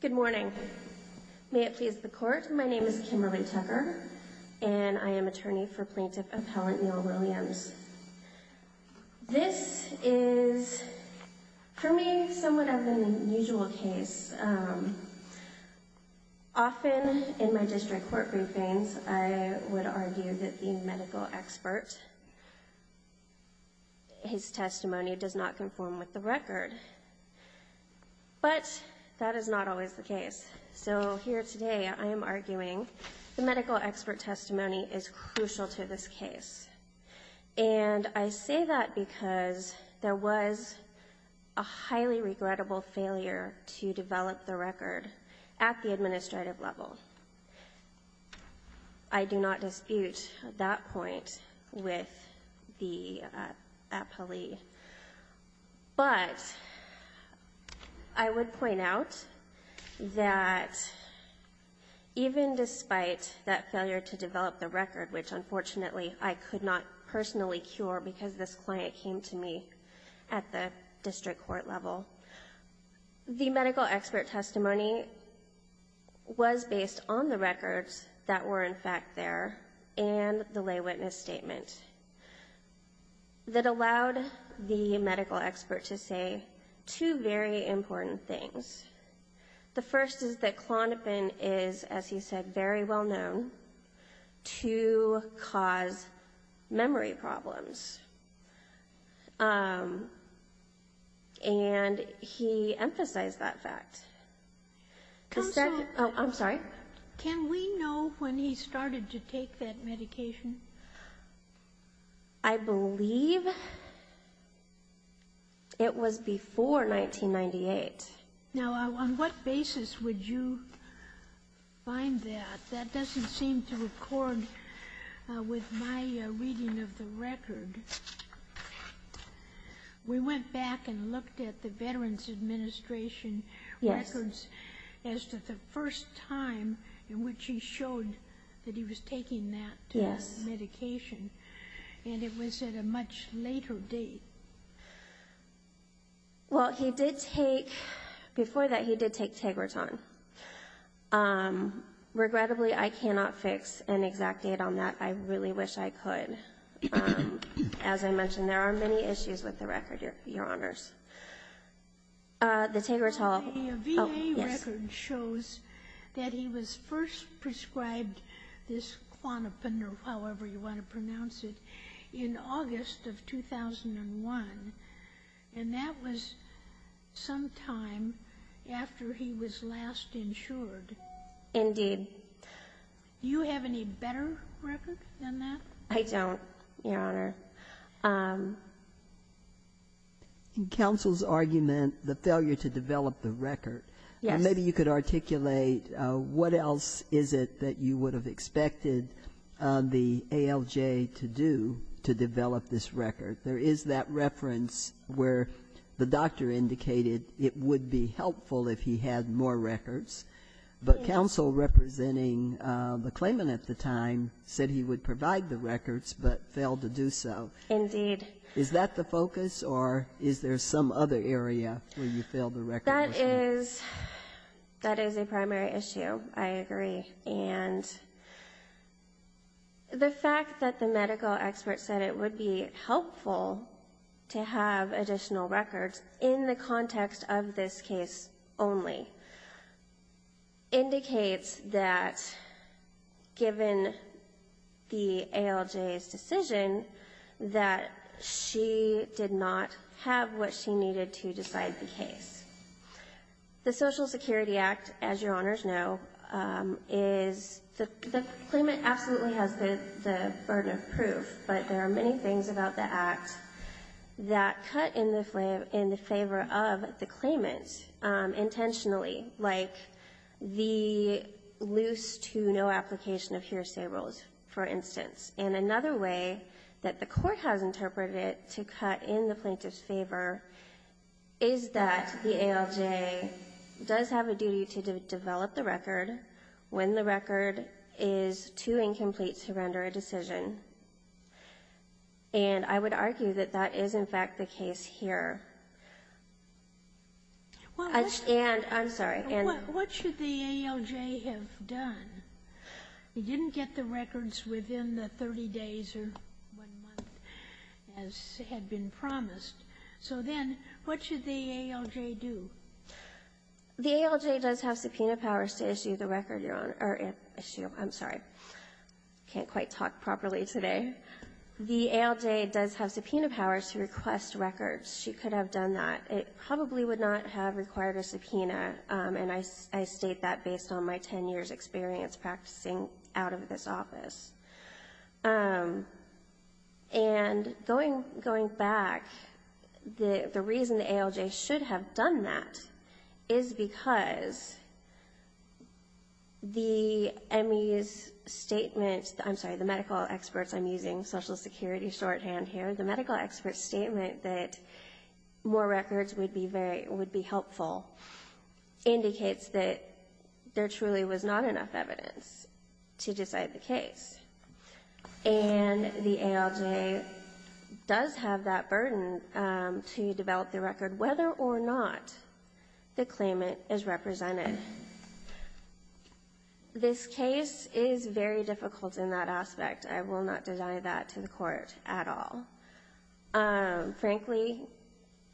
Good morning may it please the court my name is Kimberly Tucker and I am attorney for plaintiff appellant Neal Williams. This is for me somewhat of an unusual case. Often in my district court briefings I would argue that the medical expert testimony is crucial to this case and I say that because there was a highly regrettable failure to develop the record at the administrative level. I do not dispute that point with the appellee but I would point out that even despite that failure to develop the record, which unfortunately I could not personally cure because this client came to me at the district court level, the medical expert testimony was based on the testimony and the lay witness statement that allowed the medical expert to say two very important things. The first is that Klonopin is, as he said, very well known to cause memory problems and he emphasized that fact. Can we know when he started to take that medication? I believe it was before 1998. Now on what basis would you find that? That doesn't seem to record with my reading of the record. We went back and looked at the Veterans Administration records as to the first time in which he showed that he was taking that medication and it was at a much later date. Well he did take, before that he did take Tegreton. Regrettably I cannot fix an exact date on that. I really wish I could. As I mentioned, there are many issues with the record, your honors. The Tegreton. The VA record shows that he was first prescribed this Klonopin or however you want to pronounce it in August of 2001 and that was sometime after he was last insured. Indeed. Do you have any better record than that? I don't, your honor. In counsel's argument, the failure to develop the record, maybe you could articulate what else is it that you would have expected the ALJ to do to develop this record. There is that reference where the doctor indicated it would be helpful if he had more records, but counsel representing the claimant at the time said he would provide the records but failed to do so. Indeed. Is that the focus or is there some other area where you failed the record? That is a primary issue, I agree. And the fact that the medical expert said it would be helpful to have additional records in the context of this case only indicates that given the ALJ's decision that she did not have what she needed to decide the case. The Social Security Act, as your honors know, is the claimant absolutely has the burden of proof, but there are many things about the act that cut in the favor of the claimant intentionally, like the loose to no application of hearsay rules, for instance. And another way that the court has interpreted it to cut in the plaintiff's favor is that the ALJ does have a duty to develop the record when the record is too incomplete to render a decision. And I would argue that that is, in fact, the case here. And I'm sorry. What should the ALJ have done? He didn't get the records within the 30 days or one month as had been promised. So then what should the ALJ do? The ALJ does have subpoena powers to issue the record, your honor. I'm sorry. I can't quite talk properly today. The ALJ does have subpoena powers to request records. She could have done that. It probably would not have required a subpoena, and I state that based on my 10 years' experience practicing out of this office. And going back, the reason the ALJ should have done that is because the MEs' statement — I'm sorry, the medical experts. I'm using Social Security shorthand here. The medical experts' statement that more records would be helpful indicates that there truly was not enough evidence to decide the case. And the ALJ does have that burden to develop the record whether or not the claimant is represented. This case is very difficult in that aspect. I will not deny that to the Court at all. Frankly,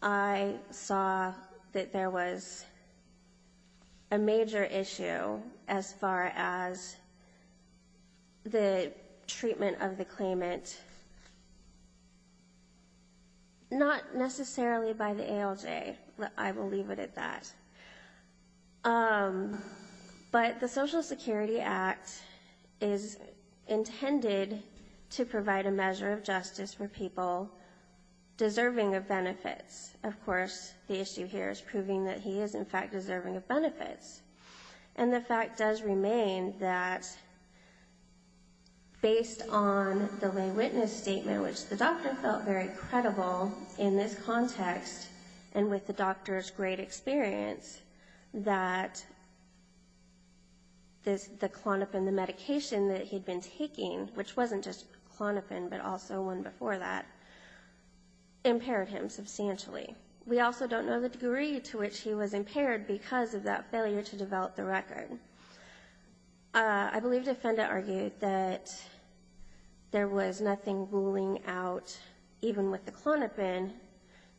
I saw that there was a major issue as far as the treatment of the claimant, not necessarily by the ALJ. I will leave it at that. But the Social Security Act is intended to provide a measure of justice for people deserving of benefits. Of course, the issue here is proving that he is, in fact, deserving of benefits. And the fact does remain that based on the lay witness statement, which the doctor felt very credible in this context and with the doctor's great experience, that the clonopin, the medication that he'd been taking, which wasn't just clonopin but also one before that, impaired him substantially. We also don't know the degree to which he was impaired because of that failure to develop the record. I believe Defenda argued that there was nothing ruling out, even with the clonopin,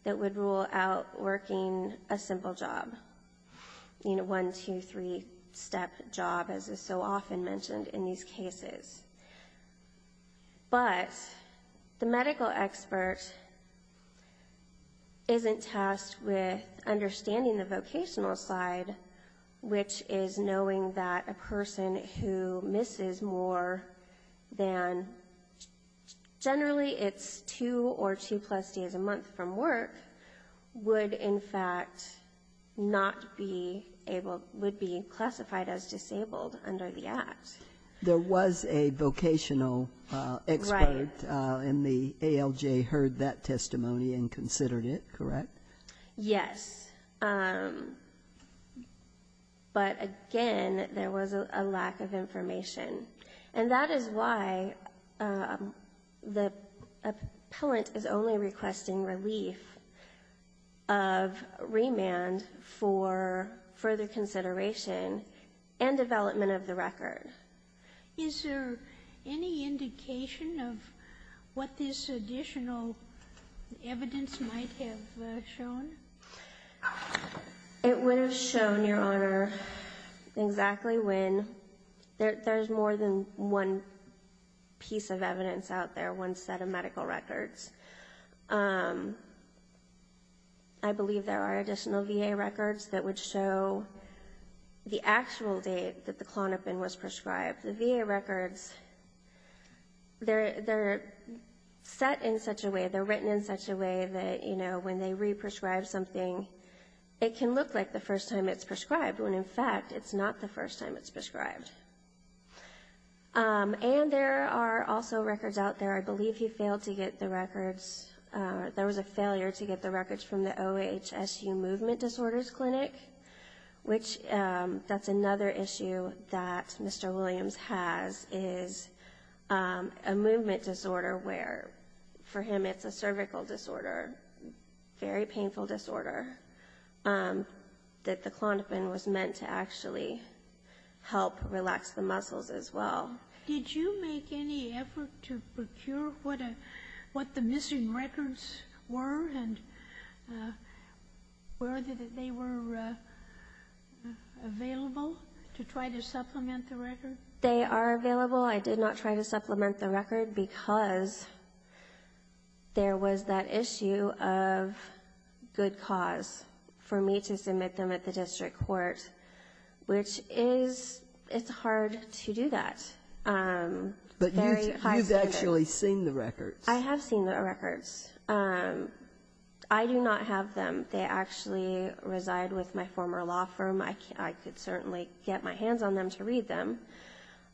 that would rule out working a simple job, you know, one, two, three-step job as is so often mentioned in these cases. But the medical expert isn't tasked with understanding the vocational side, which is knowing that a person who misses more than, generally, it's two or two plus days a month from work, would, in fact, not be able, would be classified as disabled under the Act. There was a vocational expert and the ALJ heard that testimony and considered it, correct? Yes. But again, there was a lack of information. And that is why the appellant is only requesting relief of remand for further consideration and development of the record. Is there any indication of what this additional evidence might have shown? It would have shown, Your Honor, exactly when. There's more than one piece of evidence out there, one set of medical records. I believe there are additional VA records that would show the actual date that the clonopin was prescribed. The VA records, they're set in such a way, they're written in such a way that, you know, when they re-prescribe something, it can look like the first time it's prescribed when, in fact, it's not the first time it's prescribed. And there are also records out there, I believe he failed to get the records, there was a failure to get the records from the OHSU Movement Disorders Clinic, which that's another issue that Mr. Williams has, is a movement disorder where, for him, it's a cervical disorder, very painful disorder, that the clonopin was meant to actually help relax the muscles as well. Did you make any effort to procure what the missing records were, and were they available to try to supplement the record? They are available. I did not try to supplement the record because there was that issue of good cause for me to submit them at the district court, which is, it's hard to do that. But you've actually seen the records? I have seen the records. I do not have them. They actually reside with my former law firm. I could certainly get my hands on them to read them.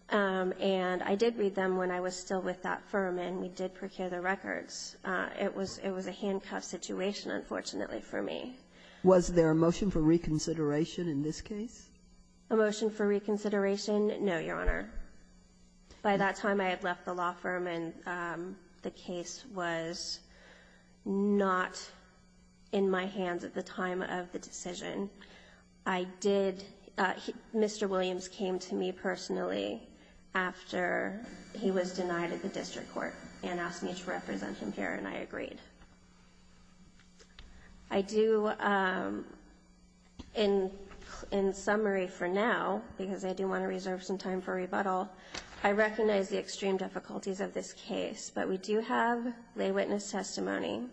And I did read them when I was still with that firm, and we did procure the records. It was a handcuffed situation, unfortunately, for me. Was there a motion for reconsideration in this case? A motion for reconsideration? No, Your Honor. By that time, I had left the law firm, and the case was not in my hands at the time of the decision. Mr. Williams came to me personally after he was denied at the district court and asked me to represent him here, and I agreed. I do, in summary for now, because I do want to reserve some time for rebuttal, I recognize the extreme difficulties of this case, but we do have lay witness testimony.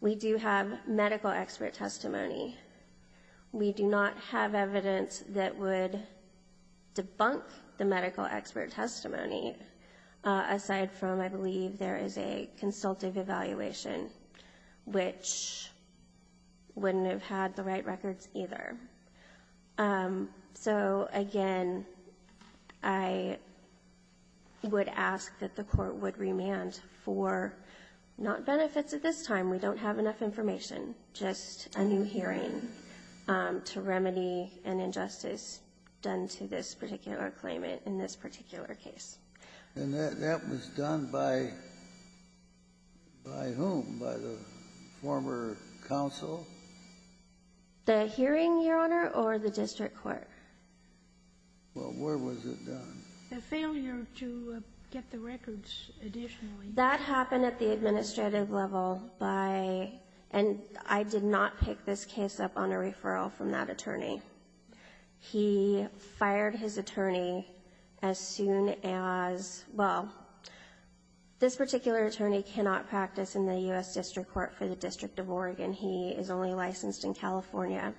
We do have medical expert testimony. We do not have evidence that would debunk the medical expert testimony aside from, I believe, there is a consultative evaluation, which wouldn't have had the right records either. So again, I would ask that the court would remand for not benefits at this time. We don't have enough information, just a new hearing to remedy an injustice done to this particular case. And that was done by whom? By the former counsel? The hearing, Your Honor, or the district court? Well, where was it done? The failure to get the records additionally. That happened at the administrative level by, and I did not pick this case up on a referral from that attorney. He fired his attorney as soon as, well, this particular attorney cannot practice in the U.S. District Court for the District of Oregon. He is only licensed in California,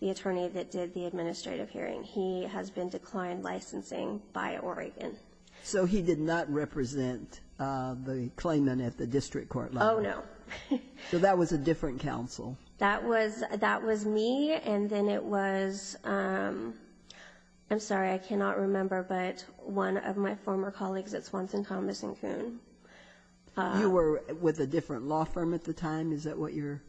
the attorney that did the administrative hearing. He has been declined licensing by Oregon. So he did not represent the claimant at the district court level? Oh, no. So that was a different counsel? That was me, and then it was, I'm sorry, I cannot remember, but one of my former colleagues at Swanson, Thomas, and Kuhn. You were with a different law firm at the time? Is that what you're?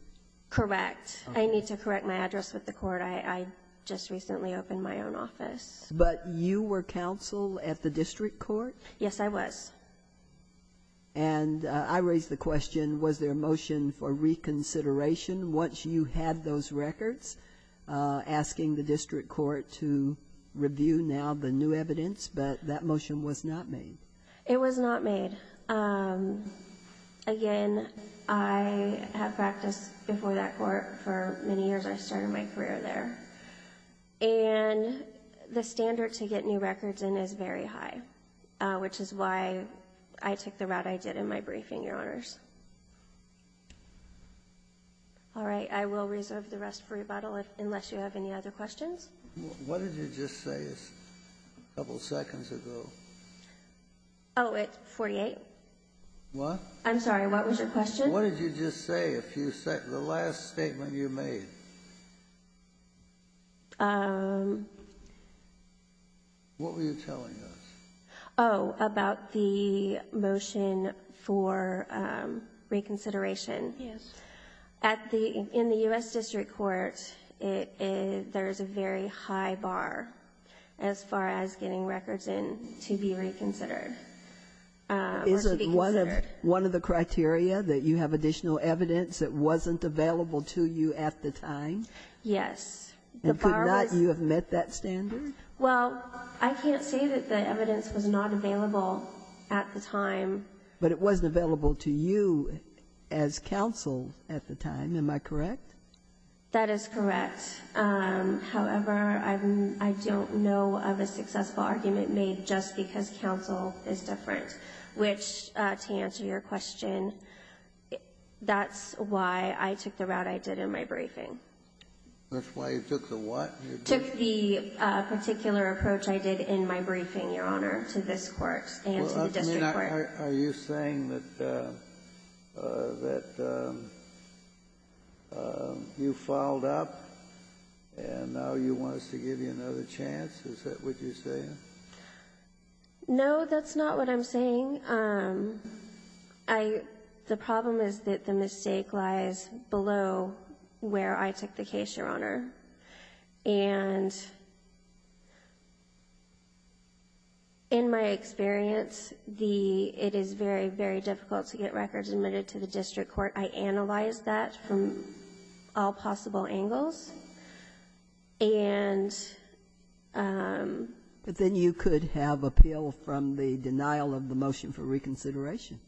Correct. I need to correct my address with the court. I just recently opened my own office. But you were counsel at the district court? Yes, I was. And I raised the question, was there a motion for reconsideration once you had those records, asking the district court to review now the new evidence, but that motion was not made? It was not made. Again, I have practiced before that court for many years. I started my career there. And the standard to get new records in is very high, which is why I took the route I did in my briefing, Your Honors. All right. I will reserve the rest for rebuttal unless you have any other questions. What did you just say a couple seconds ago? Oh, at 48? What? I'm sorry. What was your question? What did you just say a few seconds ago, the last statement you made? What were you telling us? Oh, about the motion for reconsideration. Yes. In the U.S. District Court, there is a very high bar as far as getting records in to be reconsidered. Is it one of the criteria, that you have additional evidence that wasn't available to you at the time? Yes. And could not you have met that standard? Well, I can't say that the evidence was not available at the time. But it wasn't available to you as counsel at the time. Am I correct? That is correct. However, I don't know of a successful argument made just because counsel is different, which, to answer your question, that's why I took the route I did in my briefing. That's why you took the what? Took the particular approach I did in my briefing, Your Honor, to this Court and to the district court. Well, then, are you saying that you filed up and now you want us to give you another chance? Is that what you're saying? No, that's not what I'm saying. The problem is that the mistake lies below where I took the case, Your Honor. And in my experience, it is very, very difficult to get records admitted to the district court. I analyzed that from all possible angles. But then you could have appeal from the denial of the motion for reconsideration.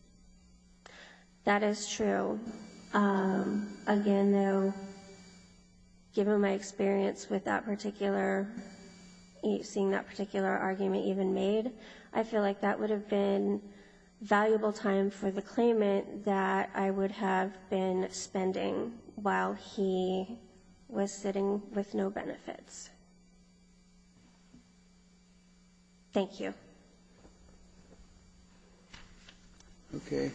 That is true. Again, though, given my experience with that particular, seeing that particular argument even made, I feel like that would have been valuable time for the district court to consider. I'm just sitting with no benefits. Thank you. Okay.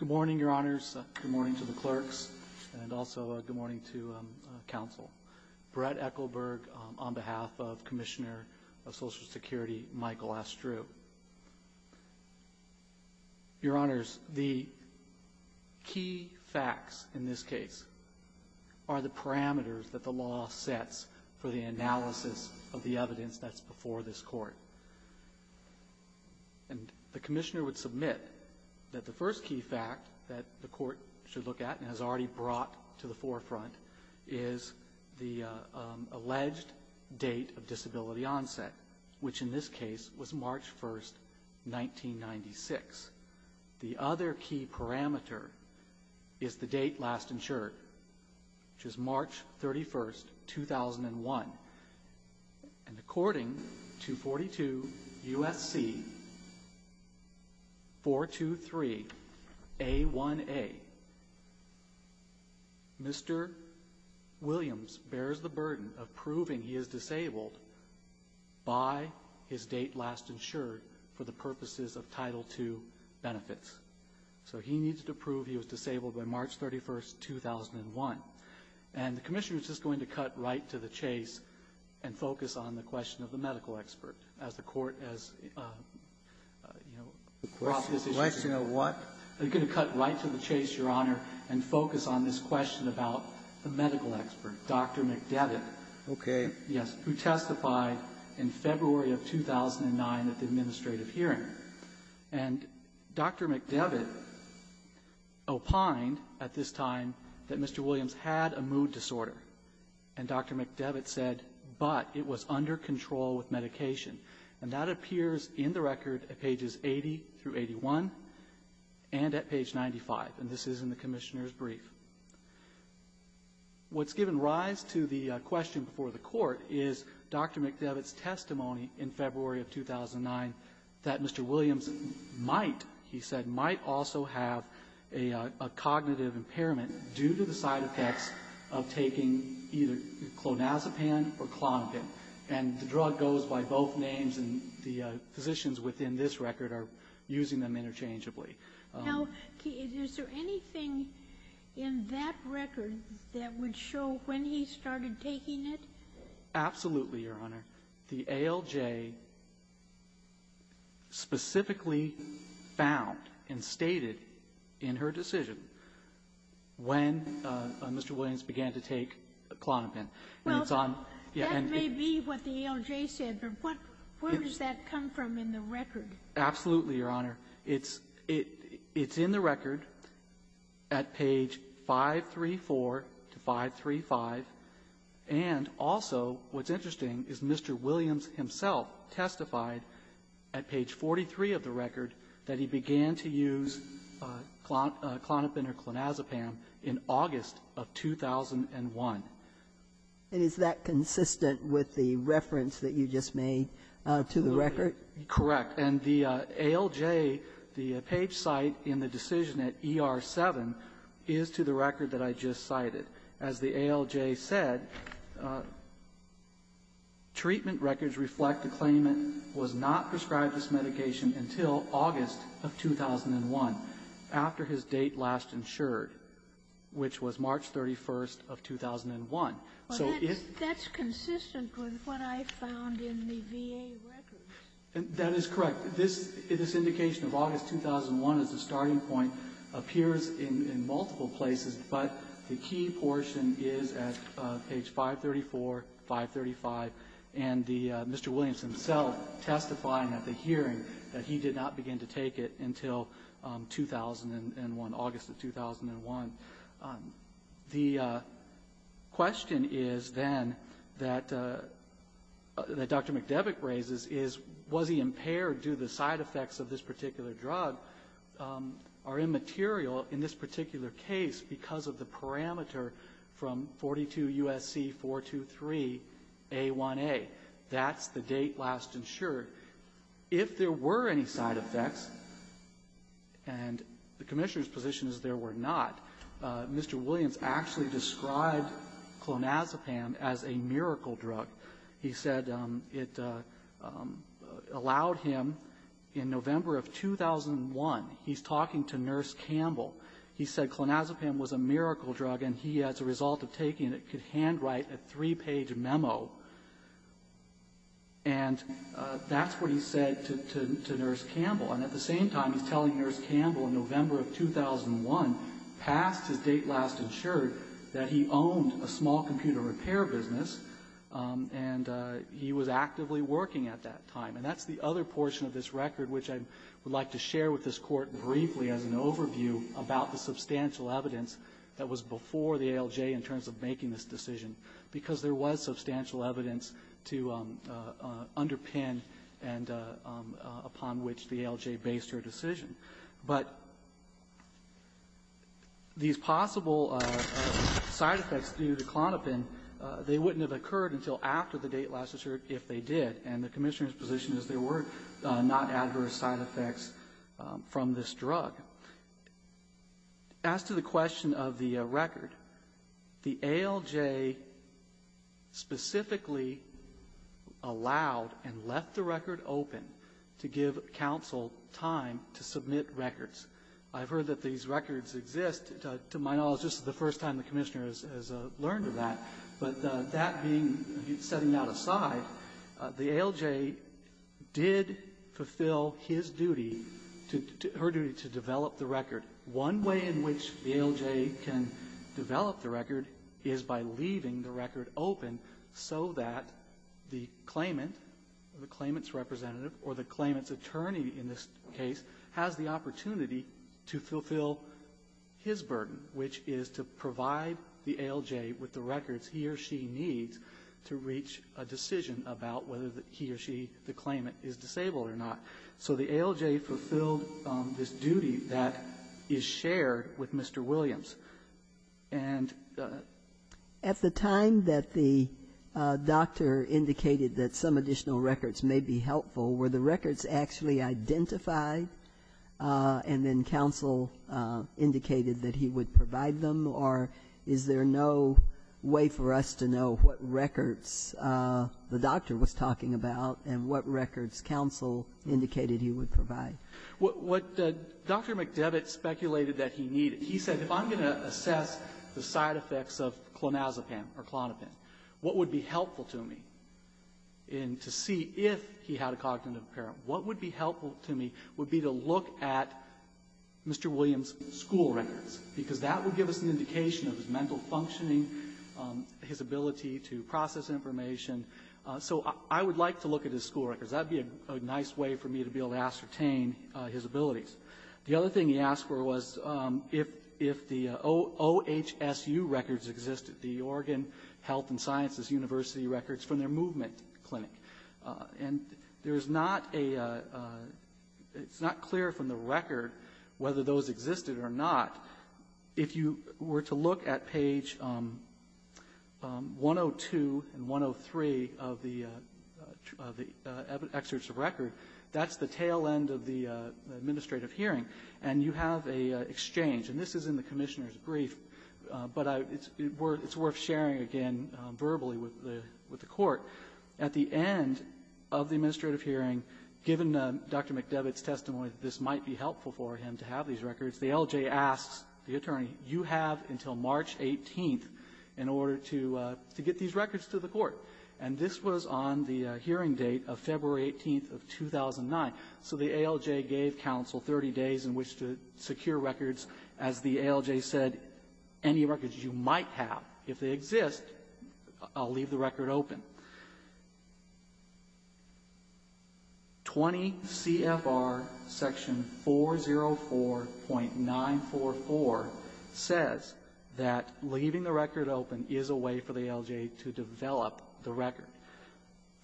Good morning, Your Honors. Good morning to the clerks and also good morning to counsel. Brett Ekelberg on behalf of Commissioner of Social Security, Michael Astreux. Your Honors, the key facts in this case are the parameters that the law sets for the analysis of the evidence that's before this Court. And the Commissioner would submit that the first key fact that the Court should look at and has already brought to the forefront is the alleged date of disability onset, which in this case was March 1st, 1996. The other key parameter is the date last insured, which is March 31st, 2001. And according to 42 U.S.C. 423A1A, Mr. Williams bears the burden of proving he is disabled by his date last insured for the purposes of Title II benefits. So he needs to prove he was disabled by March 31st, 2001. And the Commissioner is just going to cut right to the chase and focus on the question of the medical expert as the Court has, you know, brought this issue. The question of what? I'm going to cut right to the chase, Your Honor, and focus on this question about the medical expert, Dr. McDevitt. Okay. Yes, who testified in February of 2009 at the administrative hearing. And Dr. McDevitt opined at this time that Mr. Williams had a mood disorder. And Dr. McDevitt said, but it was under control with medication. And that appears in the record at pages 80 through 81 and at page 95. And this is in the Commissioner's brief. What's given rise to the question before the Court is Dr. McDevitt's testimony in February of 2009 that Mr. Williams might, he said, might also have a cognitive impairment due to the side effects of taking either clonazepam or Klonopin. And the drug goes by both names, and the physicians within this record are using them interchangeably. Now, is there anything in that record that would show when he started taking it? Absolutely, Your Honor. The ALJ specifically found and stated in her decision when Mr. Williams began to take Klonopin. Well, that may be what the ALJ said, but where does that come from in the record? Absolutely, Your Honor. It's in the record at page 534 to 535, and also what's interesting is Mr. Williams himself testified at page 43 of the record that he began to use Klonopin or Klonazepam in August of 2001. And is that consistent with the reference that you just made to the record? Correct. And the ALJ, the page cite in the decision at ER-7 is to the record that I just cited. As the ALJ said, treatment records reflect the claimant was not prescribed this medication until August of 2001, after his date last insured. Which was March 31st of 2001. Well, that's consistent with what I found in the VA records. That is correct. This indication of August 2001 as the starting point appears in multiple places, but the key portion is at page 534, 535, and Mr. Williams himself testifying at the hearing that he did not begin to take it until August of 2001. The question is then that Dr. McDevitt raises is, was he impaired? Do the side effects of this particular drug are immaterial in this particular case because of the parameter from 42 U.S.C. 423 A1A? That's the date last insured. If there were any side effects, and the Commissioner's position is there were not, Mr. Williams actually described clonazepam as a miracle drug. He said it allowed him, in November of 2001, he's talking to Nurse Campbell. He said clonazepam was a miracle drug, and he, as a result of taking it, could handwrite a three-page memo. And that's what he said to Nurse Campbell. And at the same time, he's telling Nurse Campbell in November of 2001, past his date last insured, that he owned a small computer repair business, and he was actively working at that time. And that's the other portion of this record, which I would like to share with this Court briefly as an overview about the substantial evidence that was before the ALJ in terms of making this decision, because there was substantial evidence to underpin and upon which the ALJ based her decision. But these possible side effects due to clonazepam, they wouldn't have occurred until after the date last insured if they did. And the Commissioner's position is there were not adverse side effects from this drug. As to the question of the record, the ALJ specifically allowed and left the record open to give counsel time to submit records. I've heard that these records exist. To my knowledge, this is the first time the Commissioner has learned of that. But that being, setting that aside, the ALJ did fulfill his duty, her duty to develop the record. One way in which the ALJ can develop the record is by leaving the record open so that the claimant, the claimant's representative, or the claimant's attorney in this case, has the opportunity to fulfill his burden, which is to provide the ALJ with the records he or she needs to reach a decision about whether he or she, the claimant, is disabled or not. So the ALJ fulfilled this duty that is shared with Mr. Williams. And the ---- Dr. McDevitt speculated that he needed. He said, if I'm going to assess the side of a person who has autism, what would be helpful to me? And to see if he had a cognitive impairment, what would be helpful to me would be to look at Mr. Williams' school records, because that would give us an indication of his mental functioning, his ability to process information. So I would like to look at his school records. That would be a nice way for me to be able to ascertain his abilities. The other thing he asked for was if the OHSU records existed, the Oregon Health and Sciences University records from their movement clinic. And there is not a ---- it's not clear from the record whether those existed or not. If you were to look at page 102 and 103 of the excerpts of record, that's the tail end of the administrative hearing, and you have a exchange. And this is in the Commissioner's brief, but it's worth sharing again verbally with the Court. At the end of the administrative hearing, given Dr. McDevitt's testimony that this might be helpful for him to have these records, the ALJ asks the attorney, you have until March 18th in order to get these records to the Court. And this was on the hearing date of February 18th of 2009. So the ALJ gave counsel 30 days in which to secure records. As the ALJ said, any records you might have, if they exist, leave the record open. 20 CFR section 404.944 says that leaving the record open is a way for the ALJ to develop the record,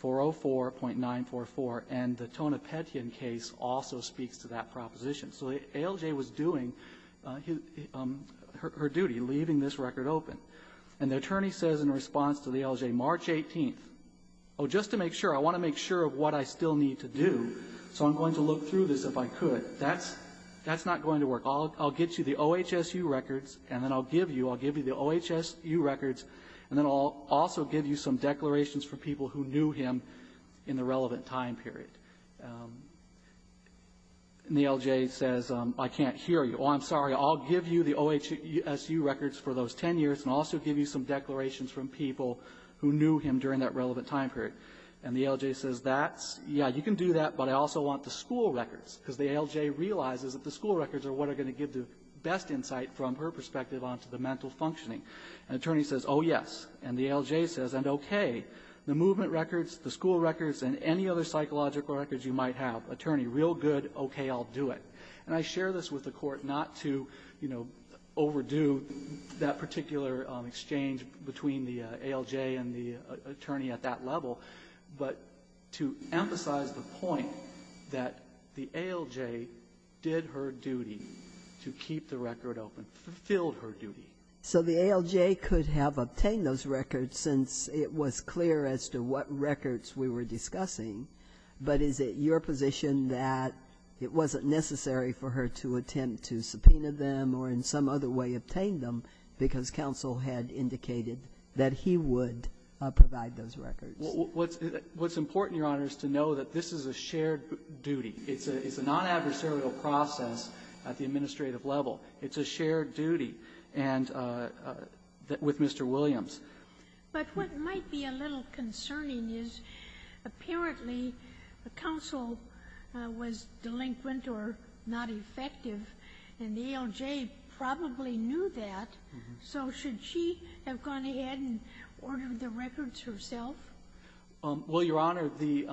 404.944. And the Tonopetian case also speaks to that proposition. So the ALJ was doing her duty, leaving this record open. And the attorney says in response to the ALJ, March 18th, oh, just to make sure, I want to make sure of what I still need to do, so I'm going to look through this if I could. That's not going to work. I'll get you the OHSU records, and then I'll give you the OHSU records, and then I'll also give you some declarations from people who knew him in the relevant time period. And the ALJ says, I can't hear you. Oh, I'm sorry, I'll give you the OHSU records for those 10 years and also give you some declarations from people who knew him during that relevant time period. And the ALJ says, that's, yeah, you can do that, but I also want the school records, because the ALJ realizes that the school records are what are going to give the best insight from her perspective onto the mental functioning. And the attorney says, oh, yes. And the ALJ says, and okay, the movement records, the school records, and any other psychological records you might have, attorney, real good, okay, I'll do it. And I share this with the Court not to, you know, overdo that particular exchange between the ALJ and the attorney at that level, but to emphasize the point that the ALJ did her duty to keep the record open, fulfilled her duty. So the ALJ could have obtained those records since it was clear as to what records we were discussing, but is it your position that it wasn't necessary for her to attempt to subpoena them or in some other way obtain them because counsel had indicated that he would provide those records? What's important, Your Honor, is to know that this is a shared duty. It's a non-adversarial process at the administrative level. It's a shared duty. And with Mr. Williams. But what might be a little concerning is apparently the counsel was delinquent or not effective, and the ALJ probably knew that. So should she have gone ahead and ordered the records herself? Well, Your Honor, the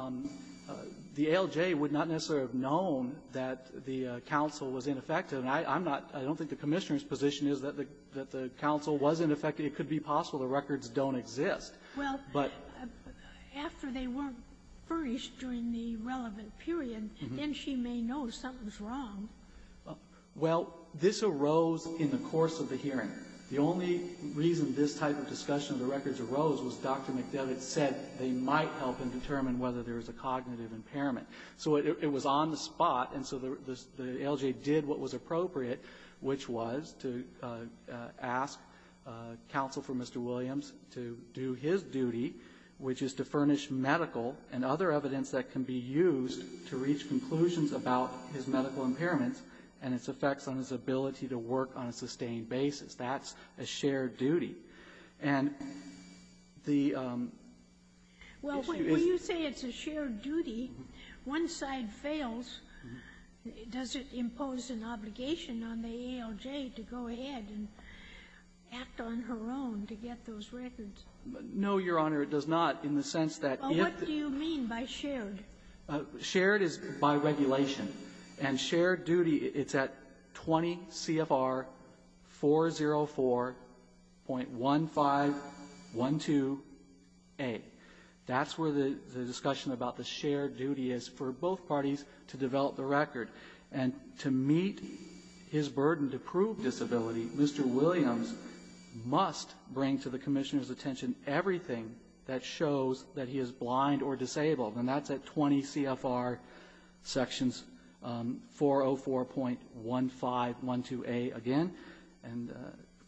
ALJ would not necessarily have known that the counsel was ineffective. And I'm not – I don't think the Commissioner's position is that the counsel was ineffective. It could be possible the records don't exist. Well, after they weren't furnished during the relevant period, then she may know something's wrong. Well, this arose in the course of the hearing. The only reason this type of discussion of the records arose was Dr. McDevitt said they might help him determine whether there was a cognitive impairment. So it was on the spot, and so the ALJ did what was appropriate, which was to ask counsel for Mr. Williams to do his duty, which is to furnish medical and other evidence that can be used to reach conclusions about his medical impairments and its effects on his life-sustaining basis. That's a shared duty. And the issue is – Well, when you say it's a shared duty, one side fails. Does it impose an obligation on the ALJ to go ahead and act on her own to get those records? No, Your Honor. It does not in the sense that – Well, what do you mean by shared? Shared is by regulation. And shared duty, it's at 20 CFR 404.1512A. That's where the discussion about the shared duty is for both parties to develop the record. And to meet his burden to prove disability, Mr. Williams must bring to the Commissioner's shows that he is blind or disabled. And that's at 20 CFR sections 404.1512A again, and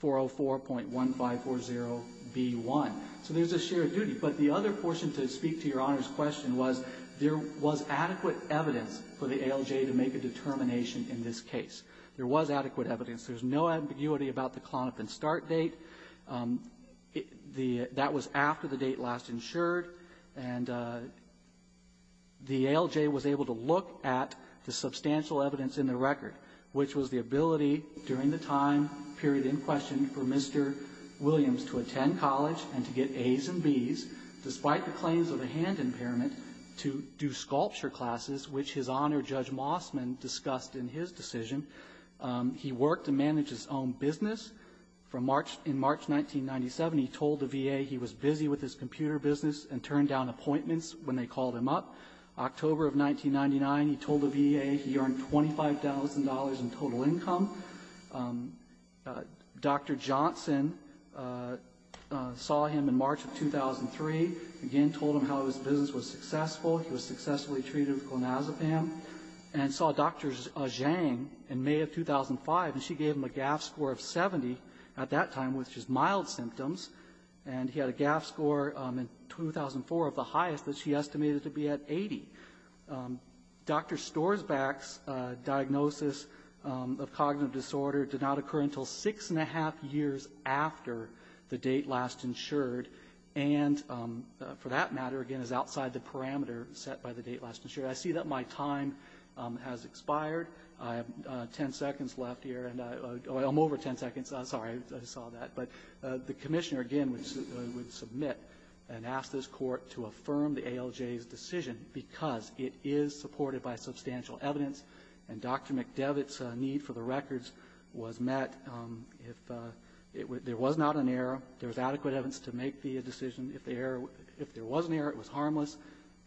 404.1540B1. So there's a shared duty. But the other portion to speak to Your Honor's question was, there was adequate evidence for the ALJ to make a determination in this case. There was adequate evidence. There's no ambiguity about the clonopin start date. That was after the date last insured. And the ALJ was able to look at the substantial evidence in the record, which was the ability during the time period in question for Mr. Williams to attend college and to get A's and B's despite the claims of a hand impairment to do sculpture classes, which His Honor Judge Mossman discussed in his decision. He worked to manage his own business. In March 1997, he told the VA he was busy with his computer business and turned down appointments when they called him up. October of 1999, he told the VA he earned $25,000 in total income. Dr. Johnson saw him in March of 2003, again told him how his business was successful. He was successfully treated with clonazepam and saw Dr. Zhang in May of 2005, and she gave him a GAF score of 70 at that time, which was mild symptoms. And he had a GAF score in 2004 of the highest that she estimated to be at 80. Dr. Storsback's diagnosis of cognitive disorder did not occur until six and a half years after the date last insured, and for that matter, again, is outside the parameter set by the VA. So my time has expired. I have 10 seconds left here. I'm over 10 seconds. I'm sorry. I saw that. But the Commissioner, again, would submit and ask this Court to affirm the ALJ's decision because it is supported by substantial evidence, and Dr. McDevitt's need for the records was met. There was not an error. There was adequate evidence to make the decision. If there was an error, it was harmless,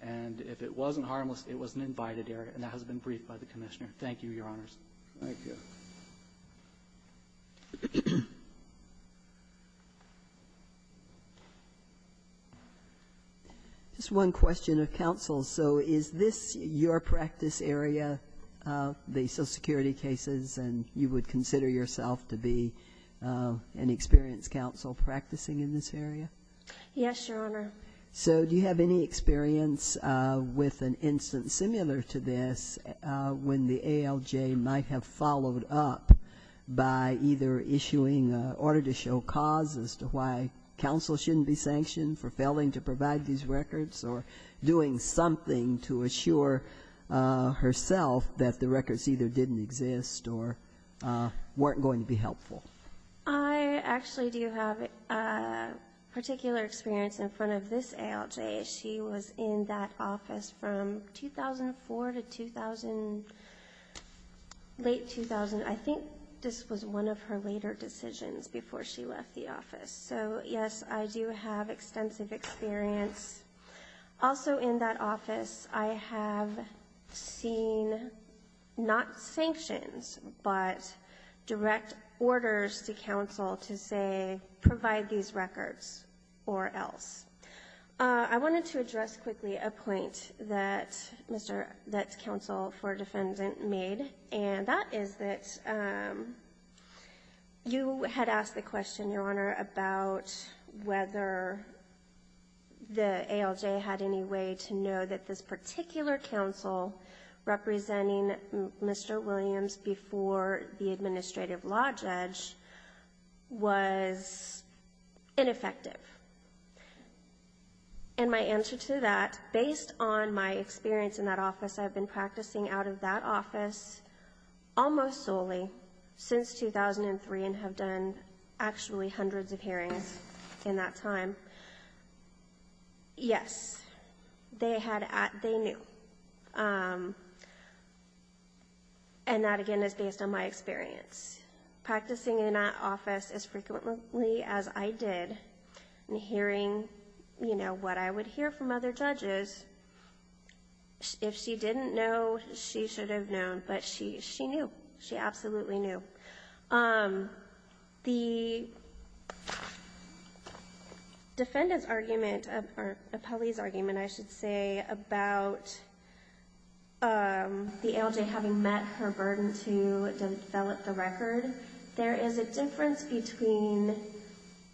and if it wasn't harmless, it was an invited error, and that has been briefed by the Commissioner. Thank you, Your Honors. Dr. McDevitt. Just one question of counsel. So is this your practice area, the social security cases, and you would consider yourself to be an experienced counsel practicing in this area? Yes, Your Honor. So do you have any experience with an instance similar to this when the ALJ might have followed up by either issuing an order to show cause as to why counsel shouldn't be sanctioned for failing to provide these records or doing something to assure herself that the records either didn't exist or weren't going to be helpful? I actually do have particular experience in front of this ALJ. She was in that office from 2004 to late 2000. I think this was one of her later decisions before she left the office. So, yes, I do have extensive experience. Also in that office, I have seen not enough letters to counsel to say provide these records or else. I wanted to address quickly a point that counsel for defendant made, and that is that you had asked the question, Your Honor, about whether the ALJ had any way to know that this particular counsel representing Mr. Williams before the administrative law judge had any way to know that this particular judge was ineffective. And my answer to that, based on my experience in that office, I have been practicing out of that office almost solely since 2003 and have done actually hundreds of hearings in that time. Yes, they knew. And that, again, is based on my experience. Practicing in that office as frequently as I did and hearing what I would hear from other judges, if she didn't know, she should have known, but she knew. She absolutely knew. The defendant's argument, or appellee's argument, I should say, about the ALJ having met her obligation to develop the record, there is a difference between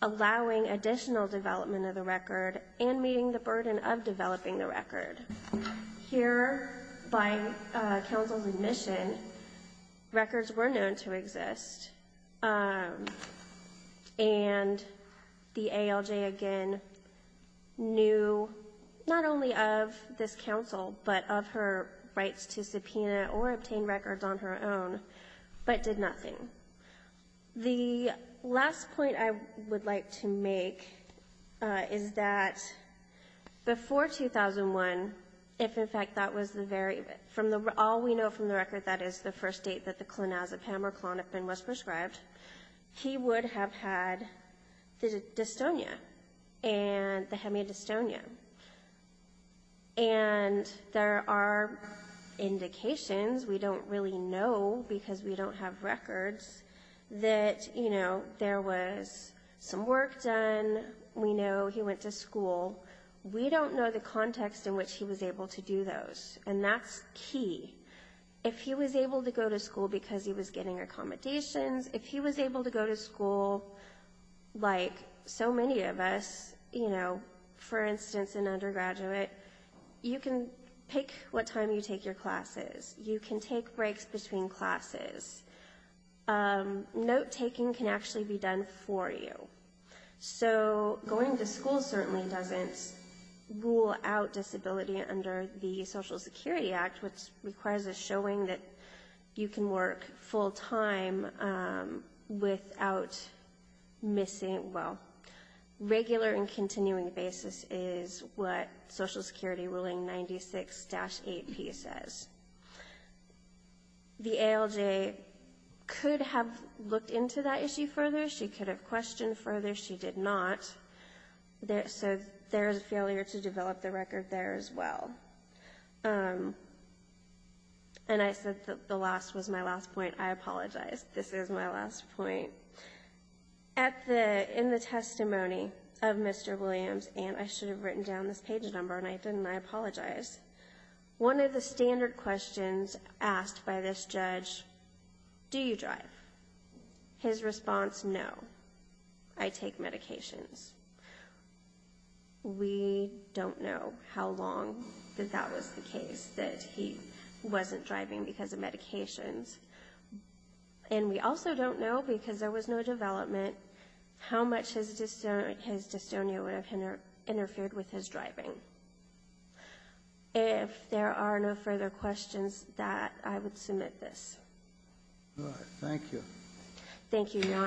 allowing additional development of the record and meeting the burden of developing the record. Here, by counsel's admission, records were known to exist, and the ALJ, again, knew not only of this counsel, but of her rights to subpoena or obtain records on her own, but did nothing. The last point I would like to make is that before 2001, if, in fact, that was the very, from all we know from the record, that is, the first date that the clonazepam or clonapine was prescribed, he would have had the dystonia, the hemidystonia. And there are other indications, we don't really know because we don't have records, that there was some work done, we know he went to school. We don't know the context in which he was able to do those, and that's key. If he was able to go to school because he was getting accommodations, if he was able to go to school like so many of us, for instance, an undergraduate, you can pick what time you take your classes. You can take breaks between classes. Note-taking can actually be done for you. So going to school certainly doesn't rule out disability under the Social Security Act, which requires a showing that you can work full-time without missing, well, regular and continuing basis is what Social Security ruling 96-8P says. The ALJ could have looked into that issue further. She could have questioned further. She did not. So there is a failure to develop the record there as well. And I said that the last was my last point. I apologize. This is my last point. In the testimony of Mr. Williams, and I should have written down this page number, and I didn't. I apologize. One of the standard questions asked by this judge, do you drive? His response, no. I take medications. We don't know how long that that was the case, that he wasn't driving because of medications. And we also don't know, because there was no development, how much his dystonia would have interfered with his driving. If there are no further questions, I would submit this. Thank you. Thank you, Your Honors.